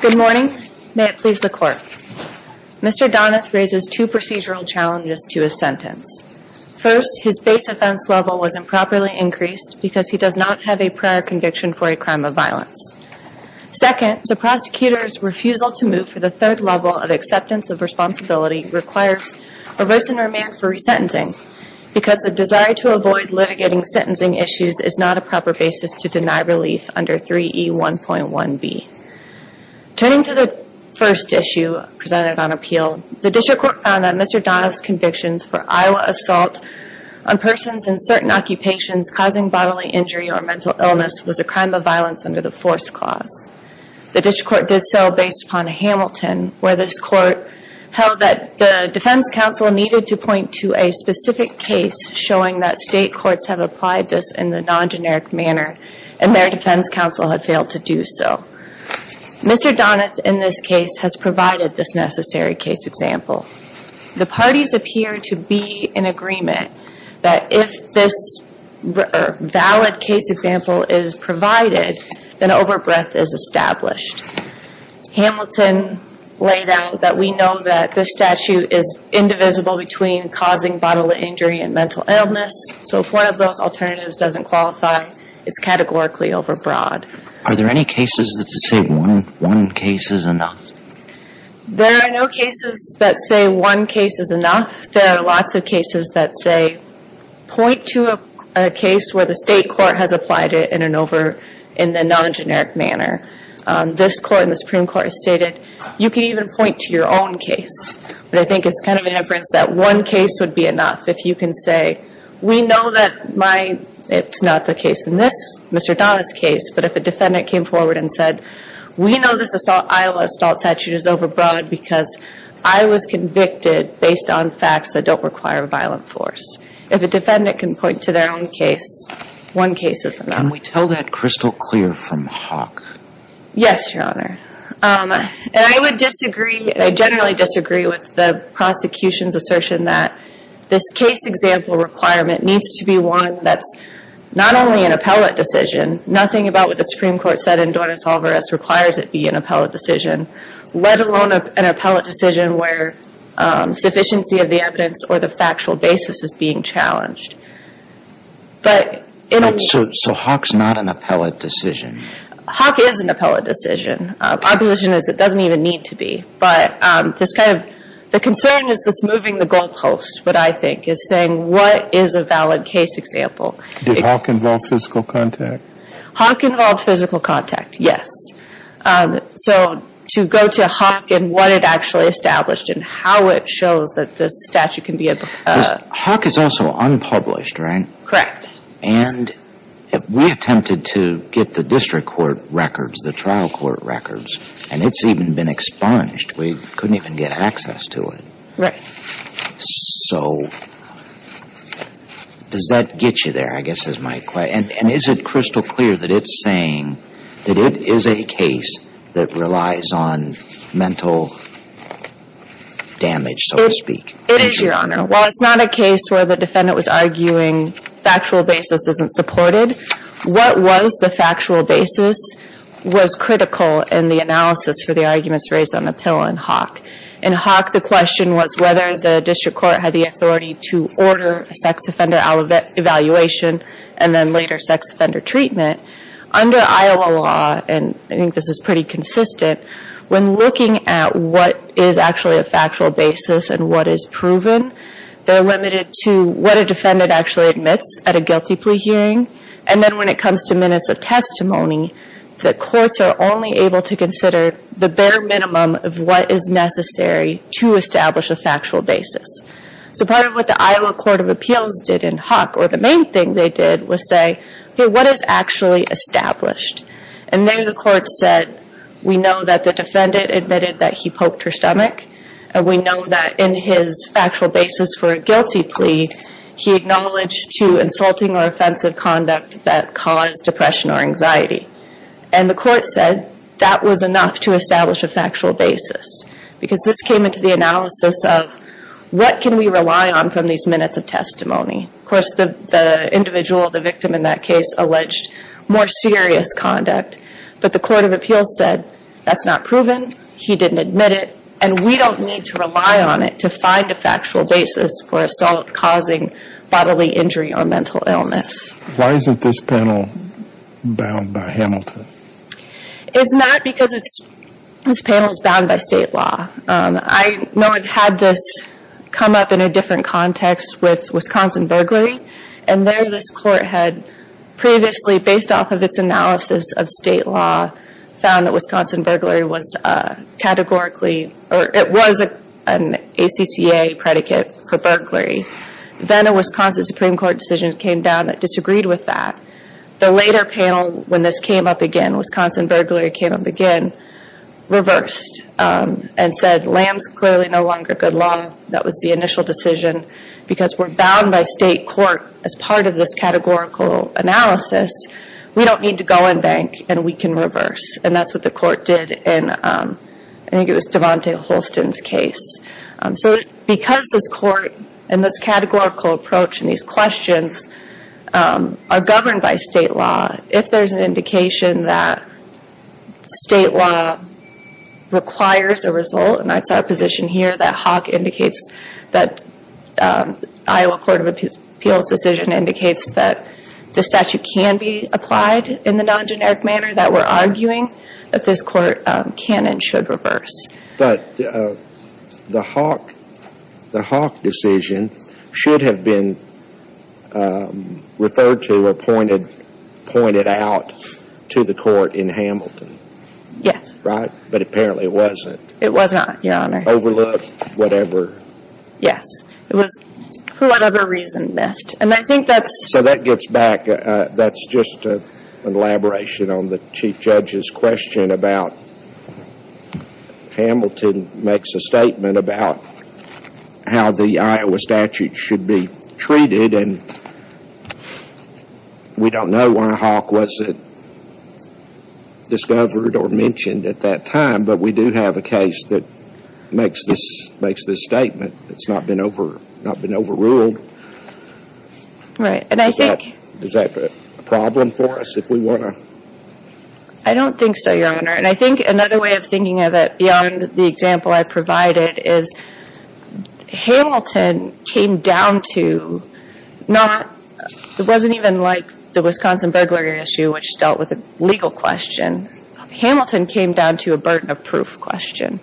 Good morning. May it please the Court. Mr. Donath raises two procedural challenges to his sentence. First, his base offense level was improperly increased because he does not have a prior conviction for a crime of violence. Second, the prosecutor's refusal to move for the third level of acceptance of responsibility requires reverse and remand for resentencing because the desire to avoid litigating sentencing issues is not a proper basis to deny relief under 3E1.1b. Turning to the first issue presented on appeal, the District Court found that Mr. Donath's convictions for Iowa assault on persons in certain occupations causing bodily injury or mental illness was a crime of violence under the Force Clause. The District Court did so based upon Hamilton, where this Court held that the Defense Counsel needed to point to a specific case showing that state courts have applied this in a non-generic manner and their defense counsel had failed to do so. Mr. Donath, in this case, has provided this necessary case example. The parties appear to be in agreement that if this valid case example is provided, then overbreadth is established. Hamilton laid out that we know that this statute is indivisible between causing bodily injury and mental illness, so if one of those alternatives doesn't qualify, it's categorically overbroad. Are there any cases that say one case is enough? There are no cases that say one case is enough. There are lots of cases that say, point to a case where the state court has applied it in a non-generic manner. This Court and the Supreme Court have stated, you can even point to your own case. But I think it's kind of an inference that one case would be enough. If you can say, we know that my, it's not the case in this, Mr. Donath's case, but if a defendant came forward and said, we know this Iowa assault statute is overbroad because I was convicted based on facts that don't require a violent force. If a defendant can point to their own case, one case is enough. Can we tell that crystal clear from Hawk? Yes, Your Honor. And I would disagree, I generally disagree with the prosecution's assertion that this case example requirement needs to be one that's not only an appellate decision, nothing about what the Supreme Court said in Doris Alvarez requires it be an appellate decision, let alone an appellate decision where sufficiency of the evidence or the factual basis is being challenged. So Hawk's not an appellate decision? Hawk is an appellate decision. Our position is it doesn't even need to be. But this kind of, the concern is this moving the goalpost, what I think, is saying, what is a valid case example? Did Hawk involve physical contact? Hawk involved physical contact, yes. So to go to Hawk and what it actually established and how it shows that this statute can be a... Because Hawk is also unpublished, right? Correct. And we attempted to get the district court records, the trial court records, and it's even been expunged. We couldn't even get access to it. Right. So does that get you there, I guess, is my question? And is it crystal clear that it's saying that it is a case that relies on mental damage, so to speak? It is, Your Honor. While it's not a case where the defendant was arguing factual basis isn't supported, what was the factual basis was critical in the analysis for the arguments raised on the pill in Hawk. In Hawk, the question was whether the district court had the authority to order a sex offender evaluation and then later sex offender treatment. Under Iowa law, and I think this is pretty consistent, when looking at what is actually a factual basis and what is proven, they're limited to what a defendant actually admits at a guilty plea hearing. And then when it comes to minutes of testimony, the courts are only able to consider the bare minimum of what is necessary to establish a factual basis. So part of what the Iowa Court of Appeals did in Hawk, or the main thing they did, was say, okay, what is actually established? And there the court said, we know that the defendant admitted that he poked her stomach. We know that in his factual basis for a guilty plea, he acknowledged to insulting or offensive conduct that caused depression or anxiety. And the court said that was enough to establish a factual basis. Because this came into the analysis of what can we rely on from these minutes of testimony? Of course, the individual, the victim in that case, alleged more serious conduct. But the Court of Appeals said that's not proven. He didn't admit it. And we don't need to rely on it to find a factual basis for assault causing bodily injury or mental illness. Why isn't this panel bound by Hamilton? It's not because this panel is bound by state law. I know I've had this come up in a different context with Wisconsin burglary. And there this court had previously, based off of its analysis of state law, found that Wisconsin burglary was categorically, or it was an ACCA predicate for burglary. Then a Wisconsin Supreme Court decision came down that disagreed with that. The later panel, when this came up again, Wisconsin burglary came up again, reversed. And said, Lamb's clearly no longer good law. That was the initial decision. Because we're bound by state court as part of this categorical analysis, we don't need to go and bank, and we can reverse. And that's what the court did in, I think it was Devante Holston's case. So because this court and this categorical approach and these questions are governed by state law, if there's an indication that state law requires a result, and that's our position here, that Hawk indicates that Iowa Court of Appeals decision indicates that the statute can be applied in the non-generic manner that we're arguing that this court can and should reverse. But the Hawk decision should have been referred to or pointed out to the court in Hamilton. Yes. Right? But apparently it wasn't. It was not, Your Honor. Overlooked, whatever. Yes. It was, for whatever reason, missed. And I think that's... So that gets back. That's just an elaboration on the Chief Judge's question about, Hamilton makes a statement about how the Iowa statute should be treated, and we don't know why Hawk wasn't discovered or mentioned at that time. But we do have a case that makes this statement. It's not been overruled. Right. And I think... Is that a problem for us, if we want to... I don't think so, Your Honor. And I think another way of thinking of it, beyond the example I provided, is Hamilton came down to not... It wasn't even like the Wisconsin burglary issue, which dealt with a legal question. Hamilton came down to a burden of proof question.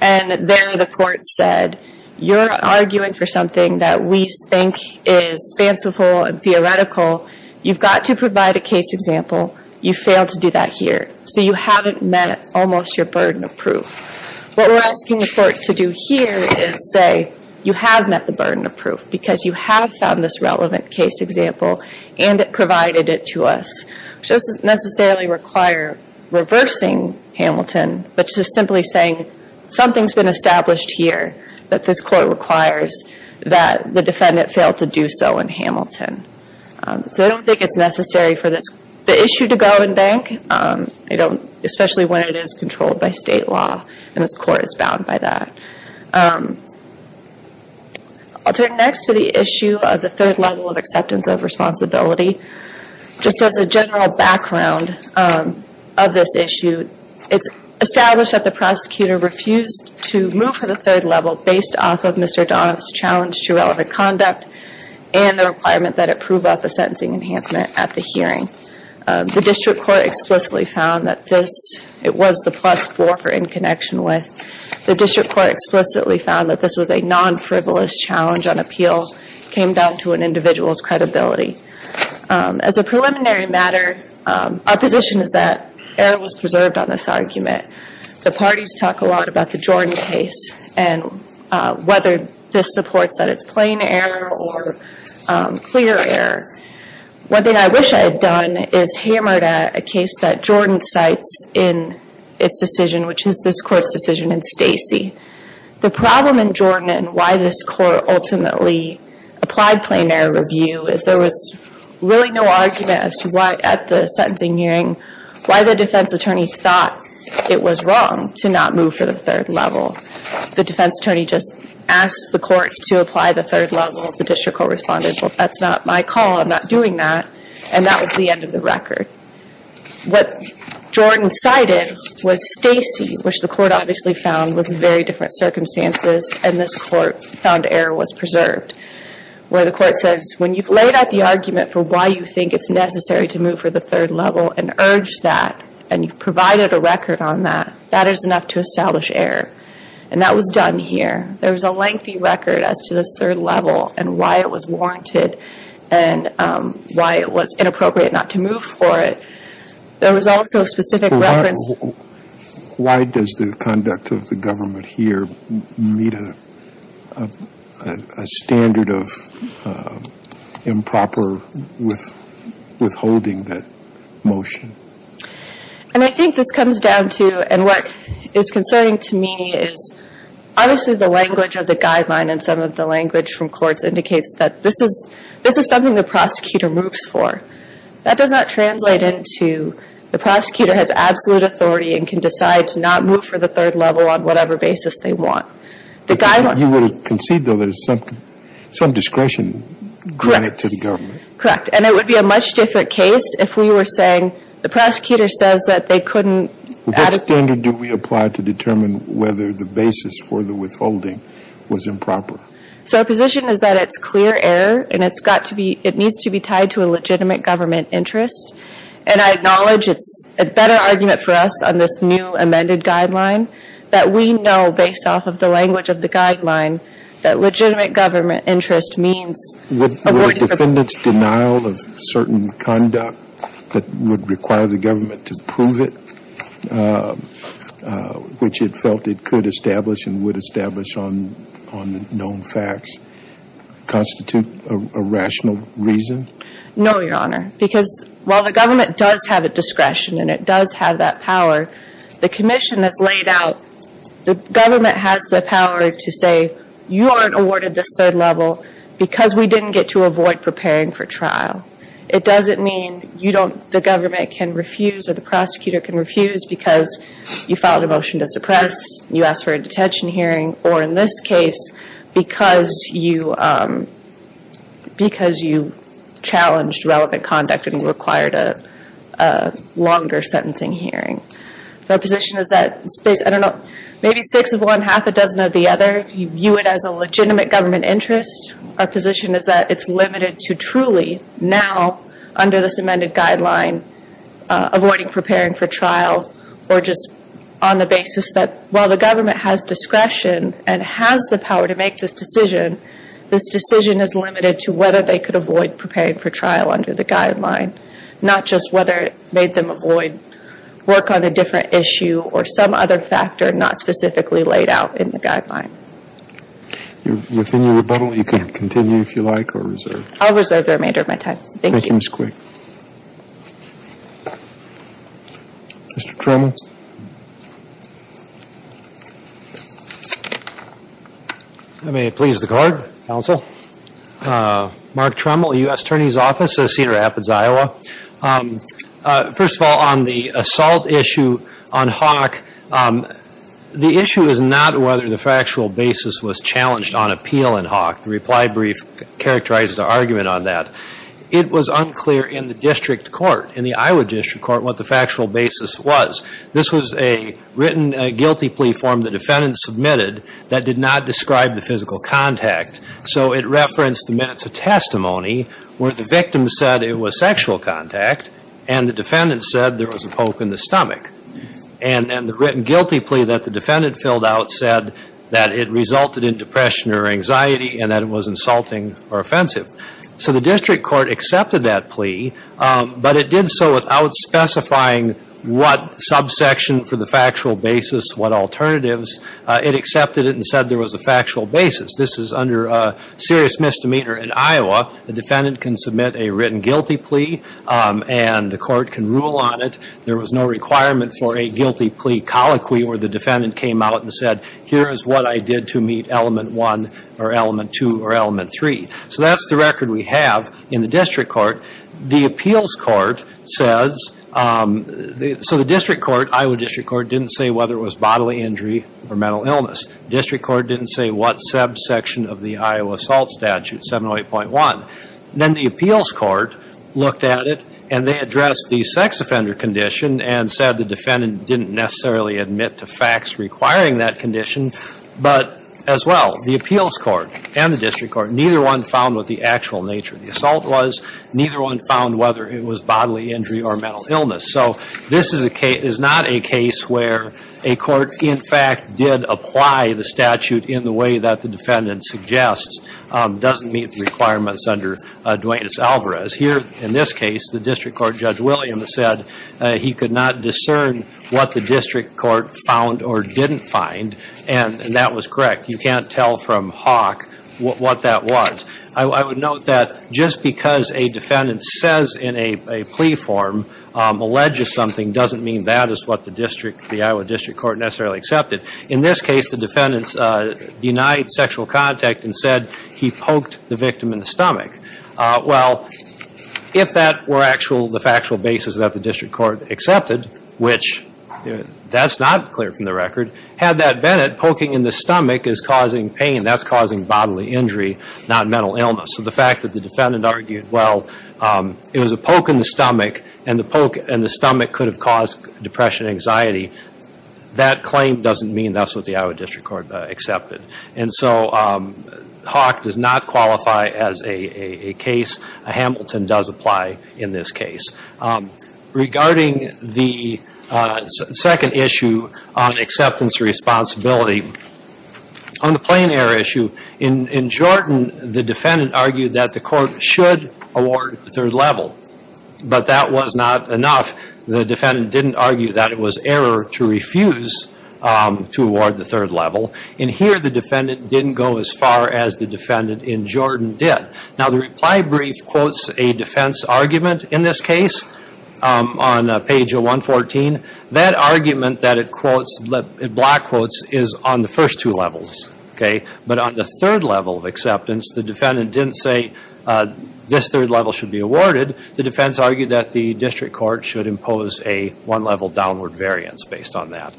And there the court said, you're arguing for something that we think is fanciful and theoretical. You've got to provide a case example. You failed to do that here. So you haven't met almost your burden of proof. What we're asking the court to do here is say, you have met the burden of proof, because you have found this relevant case example, and it provided it to us. It doesn't necessarily require reversing Hamilton, but just simply saying, something's been established here that this court requires that the defendant fail to do so in Hamilton. So I don't think it's necessary for the issue to go in bank, especially when it is controlled by state law, and this court is bound by that. I'll turn next to the issue of the third level of acceptance of responsibility. Just as a general background of this issue, it's established that the prosecutor refused to move for the third level based off of Mr. Donoff's challenge to relevant conduct and the requirement that it prove up a sentencing enhancement at the hearing. The district court explicitly found that this, it was the plus four for in connection with. The district court explicitly found that this was a non-frivolous challenge on appeal, came down to an individual's credibility. As a preliminary matter, our position is that error was preserved on this argument. The parties talk a lot about the Jordan case and whether this supports that it's plain error or clear error. One thing I wish I had done is hammered a case that Jordan cites in its decision, which is this court's decision in Stacy. The problem in Jordan and why this court ultimately applied plain error review is there was really no argument as to why at the sentencing hearing, why the defense attorney thought it was wrong to not move for the third level. The defense attorney just asked the court to apply the third level. The district court responded, well, that's not my call. I'm not doing that, and that was the end of the record. What Jordan cited was Stacy, which the court obviously found was very different circumstances, and this court found error was preserved, where the court says, when you've laid out the argument for why you think it's necessary to move for the third level and urged that and you've provided a record on that, that is enough to establish error, and that was done here. There was a lengthy record as to this third level and why it was warranted and why it was inappropriate not to move for it. There was also a specific reference. Why does the conduct of the government here meet a standard of improper withholding that motion? And I think this comes down to, and what is concerning to me is, obviously the language of the guideline and some of the language from courts indicates that this is something the prosecutor moves for. That does not translate into the prosecutor has absolute authority and can decide to not move for the third level on whatever basis they want. You would concede, though, that it's some discretion granted to the government. Correct. And it would be a much different case if we were saying the prosecutor says that they couldn't add it. What standard do we apply to determine whether the basis for the withholding was improper? So our position is that it's clear error and it's got to be, it needs to be tied to a legitimate government interest. And I acknowledge it's a better argument for us on this new amended guideline that we know based off of the language of the guideline that legitimate government interest means avoiding. Were defendants' denial of certain conduct that would require the government to prove it, which it felt it could establish and would establish on known facts, constitute a rational reason? No, Your Honor, because while the government does have a discretion and it does have that power, the commission has laid out, the government has the power to say, you aren't awarded this third level because we didn't get to avoid preparing for trial. It doesn't mean you don't, the government can refuse or the prosecutor can refuse because you filed a motion to suppress, you asked for a detention hearing, or in this case, because you challenged relevant conduct and required a longer sentencing hearing. Our position is that, I don't know, maybe six of one, half a dozen of the other, you view it as a legitimate government interest. Our position is that it's limited to truly now, under this amended guideline, avoiding preparing for trial or just on the basis that, while the government has discretion and has the power to make this decision, this decision is limited to whether they could avoid preparing for trial under the guideline, not just whether it made them avoid work on a different issue Within your rebuttal, you can continue if you like or reserve. I'll reserve the remainder of my time. Thank you. Thank you, Ms. Quig. Mr. Tremble. May it please the Court, Counsel. Mark Tremble, U.S. Attorney's Office, Cedar Rapids, Iowa. First of all, on the assault issue on Hawk, the issue is not whether the factual basis was challenged on appeal on Hawk. The reply brief characterizes our argument on that. It was unclear in the district court, in the Iowa district court, what the factual basis was. This was a written guilty plea form the defendant submitted that did not describe the physical contact. So it referenced the minutes of testimony where the victim said it was sexual contact and the defendant said there was a poke in the stomach. And then the written guilty plea that the defendant filled out said that it resulted in depression or anxiety and that it was insulting or offensive. So the district court accepted that plea, but it did so without specifying what subsection for the factual basis, what alternatives. It accepted it and said there was a factual basis. This is under serious misdemeanor in Iowa. The defendant can submit a written guilty plea and the court can rule on it. There was no requirement for a guilty plea colloquy where the defendant came out and said here is what I did to meet element one or element two or element three. So that's the record we have in the district court. The appeals court says, so the district court, Iowa district court, didn't say whether it was bodily injury or mental illness. The district court didn't say what subsection of the Iowa assault statute, 708.1. Then the appeals court looked at it and they addressed the sex offender condition and said the defendant didn't necessarily admit to facts requiring that condition. But as well, the appeals court and the district court, neither one found what the actual nature of the assault was. Neither one found whether it was bodily injury or mental illness. So this is not a case where a court, in fact, did apply the statute in the way that the defendant suggests doesn't meet the requirements under Duane S. Alvarez. Here, in this case, the district court, Judge Williams, said he could not discern what the district court found or didn't find, and that was correct. You can't tell from Hawk what that was. I would note that just because a defendant says in a plea form, alleges something, doesn't mean that is what the Iowa district court necessarily accepted. In this case, the defendant denied sexual contact and said he poked the victim in the stomach. Well, if that were the factual basis that the district court accepted, which that's not clear from the record, had that been it, poking in the stomach is causing pain, that's causing bodily injury, not mental illness. So the fact that the defendant argued, well, it was a poke in the stomach and the stomach could have caused depression and anxiety, that claim doesn't mean that's what the Iowa district court accepted. And so Hawk does not qualify as a case. Hamilton does apply in this case. Regarding the second issue on acceptance of responsibility, on the plain error issue, in Jordan, the defendant argued that the court should award third level, but that was not enough. The defendant didn't argue that it was error to refuse to award the third level. And here the defendant didn't go as far as the defendant in Jordan did. Now, the reply brief quotes a defense argument in this case on page 114. That argument that it quotes, it block quotes, is on the first two levels. But on the third level of acceptance, the defendant didn't say this third level should be awarded. The defense argued that the district court should impose a one level downward variance based on that.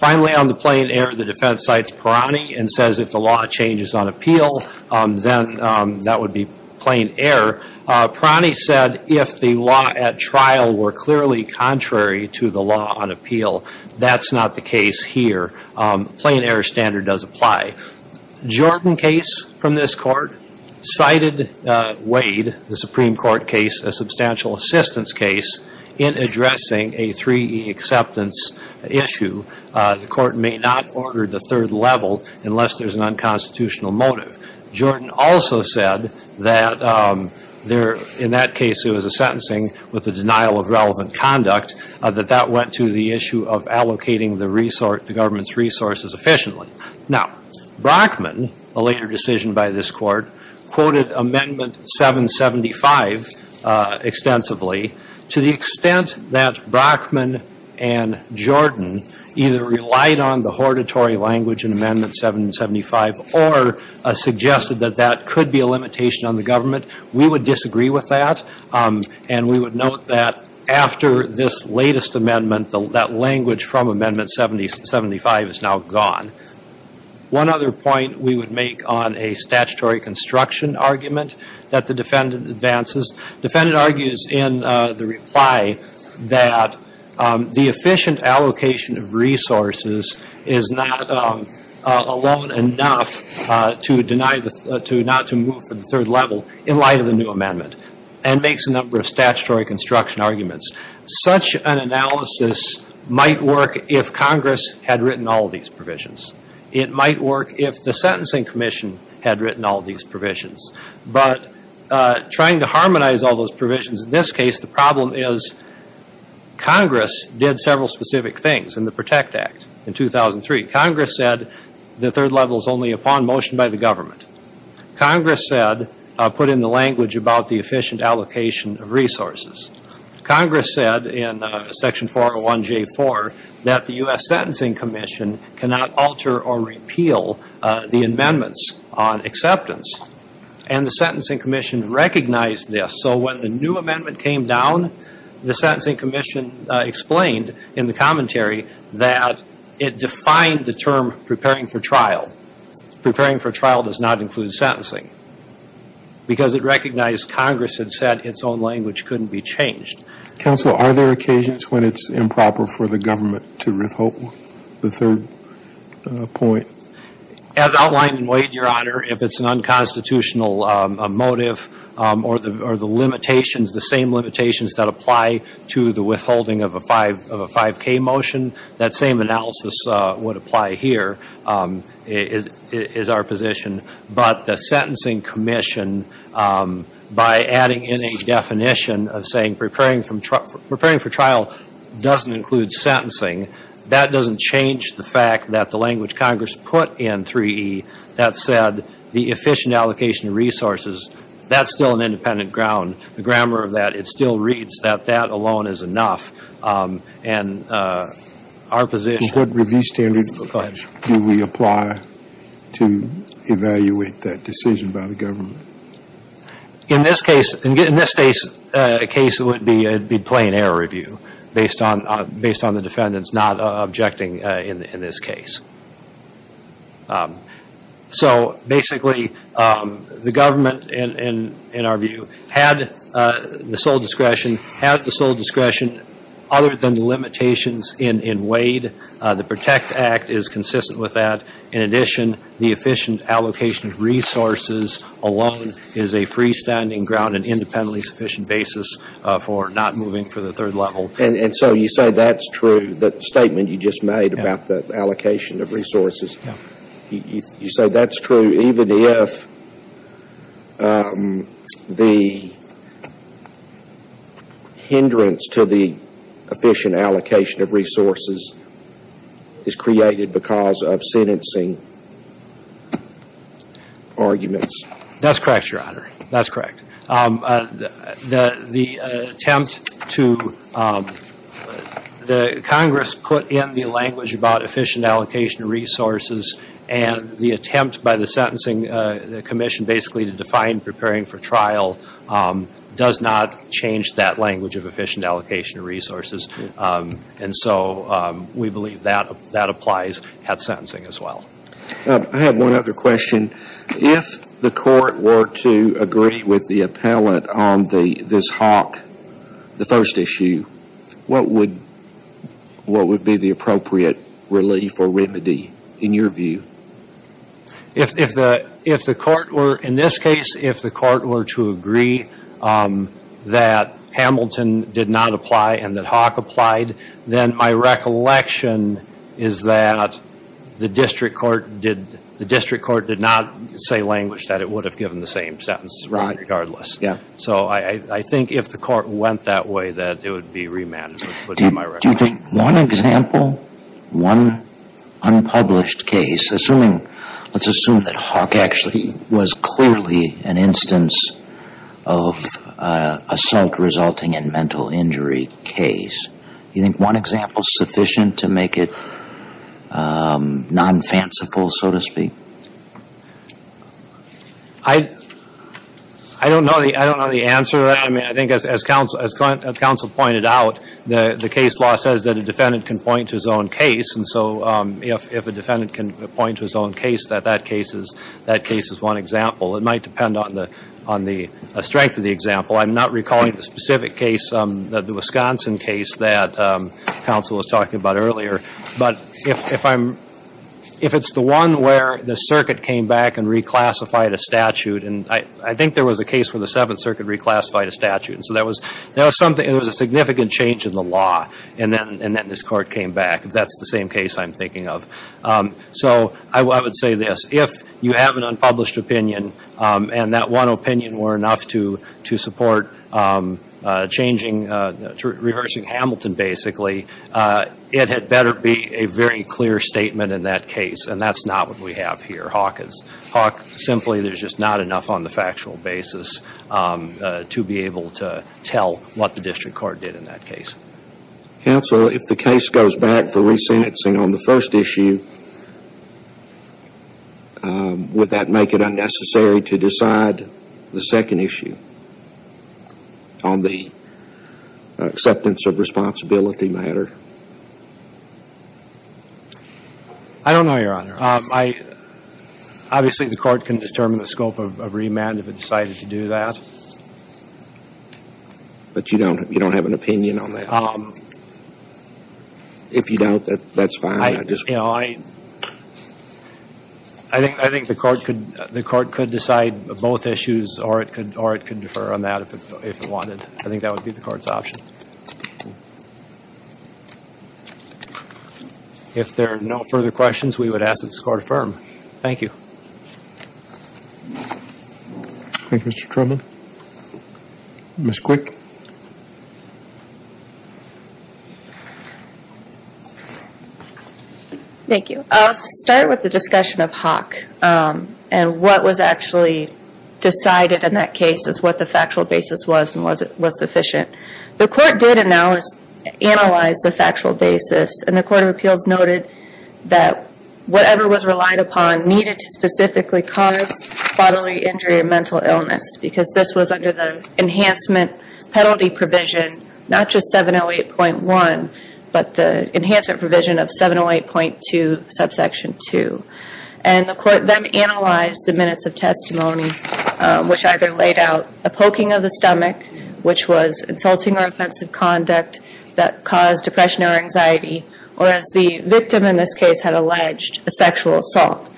Finally, on the plain error, the defense cites Parani and says if the law changes on appeal, then that would be plain error. Parani said if the law at trial were clearly contrary to the law on appeal, that's not the case here. Plain error standard does apply. Jordan case from this court cited Wade, the Supreme Court case, a substantial assistance case, in addressing a 3E acceptance issue. The court may not order the third level unless there's an unconstitutional motive. Jordan also said that in that case it was a sentencing with a denial of relevant conduct, that that went to the issue of allocating the government's resources efficiently. Now, Brockman, a later decision by this court, quoted Amendment 775 extensively. To the extent that Brockman and Jordan either relied on the hortatory language in Amendment 775 or suggested that that could be a limitation on the government, we would disagree with that. And we would note that after this latest amendment, that language from Amendment 775 is now gone. One other point we would make on a statutory construction argument that the defendant advances. Defendant argues in the reply that the efficient allocation of resources is not alone enough to deny the to not to move for the third level in light of the new amendment, and makes a number of statutory construction arguments. Such an analysis might work if Congress had written all these provisions. It might work if the Sentencing Commission had written all these provisions. But trying to harmonize all those provisions in this case, the problem is Congress did several specific things in the PROTECT Act in 2003. Congress said the third level is only upon motion by the government. Congress said, put in the language about the efficient allocation of resources. Congress said in Section 401J4 that the U.S. Sentencing Commission cannot alter or repeal the amendments on acceptance. And the Sentencing Commission recognized this. So when the new amendment came down, the Sentencing Commission explained in the commentary that it defined the term preparing for trial. Preparing for trial does not include sentencing. Because it recognized Congress had said its own language couldn't be changed. Counsel, are there occasions when it's improper for the government to withhold the third point? As outlined in Wade, Your Honor, if it's an unconstitutional motive or the limitations, the same limitations that apply to the withholding of a 5K motion, that same analysis would apply here, is our position. But the Sentencing Commission, by adding in a definition of saying preparing for trial doesn't include sentencing, that doesn't change the fact that the language Congress put in 3E that said the efficient allocation of resources, that's still an independent ground. The grammar of that, it still reads that that alone is enough. And our position. What review standard do we apply to evaluate that decision by the government? In this case, it would be plain error review based on the defendants not objecting in this case. So basically, the government, in our view, had the sole discretion other than the limitations in Wade. The PROTECT Act is consistent with that. In addition, the efficient allocation of resources alone is a freestanding ground and independently sufficient basis for not moving for the third level. And so you say that's true, the statement you just made about the allocation of resources? Yeah. You say that's true even if the hindrance to the efficient allocation of resources is created because of sentencing arguments? That's correct, Your Honor. That's correct. The attempt to the Congress put in the language about efficient allocation of resources and the attempt by the sentencing commission basically to define preparing for trial does not change that language of efficient allocation of resources. And so we believe that applies at sentencing as well. I have one other question. If the court were to agree with the appellant on this Hawk, the first issue, what would be the appropriate relief or remedy in your view? In this case, if the court were to agree that Hamilton did not apply and that Hawk applied, then my recollection is that the district court did not say language that it would have given the same sentence regardless. So I think if the court went that way that it would be remanded. Do you think one example, one unpublished case, let's assume that Hawk actually was clearly an instance of assault resulting in mental injury case. Do you think one example is sufficient to make it non-fanciful, so to speak? I don't know the answer. I mean, I think as counsel pointed out, the case law says that a defendant can point to his own case. And so if a defendant can point to his own case, that that case is one example. It might depend on the strength of the example. I'm not recalling the specific case, the Wisconsin case that counsel was talking about earlier. But if it's the one where the circuit came back and reclassified a statute, and I think there was a case where the Seventh Circuit reclassified a statute. And so that was a significant change in the law. And then this court came back. That's the same case I'm thinking of. So I would say this. If you have an unpublished opinion and that one opinion were enough to support changing, reversing Hamilton basically, it had better be a very clear statement in that case. And that's not what we have here. Hawk, simply, there's just not enough on the factual basis to be able to tell what the district court did in that case. Counsel, if the case goes back for re-sentencing on the first issue, would that make it unnecessary to decide the second issue on the acceptance of responsibility matter? I don't know, Your Honor. Obviously, the court can determine the scope of remand if it decided to do that. But you don't have an opinion on that? If you doubt that, that's fine. I think the court could decide both issues, or it could defer on that if it wanted. I think that would be the court's option. If there are no further questions, we would ask that this court affirm. Thank you. Thank you, Mr. Truman. Ms. Quick? Thank you. I'll start with the discussion of Hawk and what was actually decided in that case as what the factual basis was and was sufficient. The court did analyze the factual basis, and the Court of Appeals noted that whatever was relied upon needed to specifically cause bodily injury or mental illness because this was under the enhancement penalty provision, not just 708.1, but the enhancement provision of 708.2, subsection 2. which either laid out a poking of the stomach, which was insulting or offensive conduct that caused depression or anxiety, or as the victim in this case had alleged, a sexual assault.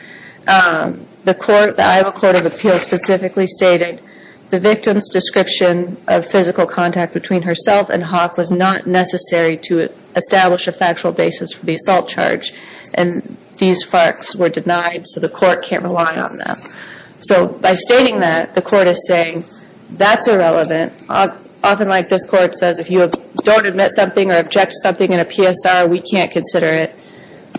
The Iowa Court of Appeals specifically stated the victim's description of physical contact between herself and Hawk was not necessary to establish a factual basis for the assault charge, and these FARCs were denied, so the court can't rely on them. So by stating that, the court is saying, that's irrelevant. Often like this court says, if you don't admit something or object to something in a PSR, we can't consider it.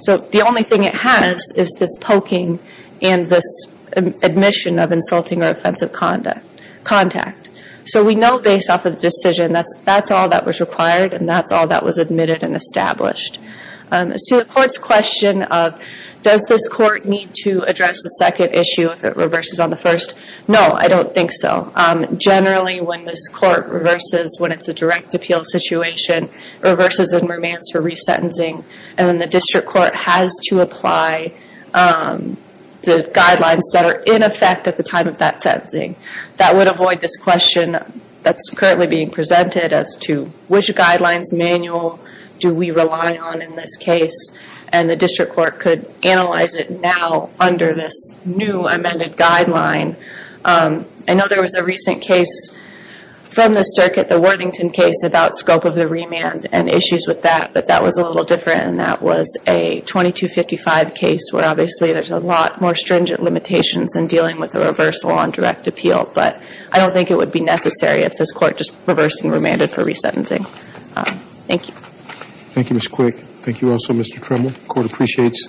So the only thing it has is this poking and this admission of insulting or offensive contact. So we know based off of the decision, that's all that was required, and that's all that was admitted and established. As to the court's question of, does this court need to address the second issue if it reverses on the first? No, I don't think so. Generally, when this court reverses, when it's a direct appeal situation, reverses and remains for resentencing, and then the district court has to apply the guidelines that are in effect at the time of that sentencing. That would avoid this question that's currently being presented as to which guidelines manual do we rely on in this case, and the district court could analyze it now under this new amended guideline. I know there was a recent case from the circuit, the Worthington case, about scope of the remand and issues with that, but that was a little different, and that was a 2255 case, where obviously there's a lot more stringent limitations than dealing with a reversal on direct appeal, but I don't think it would be necessary if this court just reversed and remanded for resentencing. Thank you. Thank you, Ms. Quick. Thank you also, Mr. Tremble. The court appreciates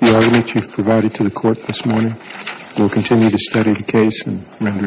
the argument you've provided to the court this morning. We'll continue to study the case and render a decision.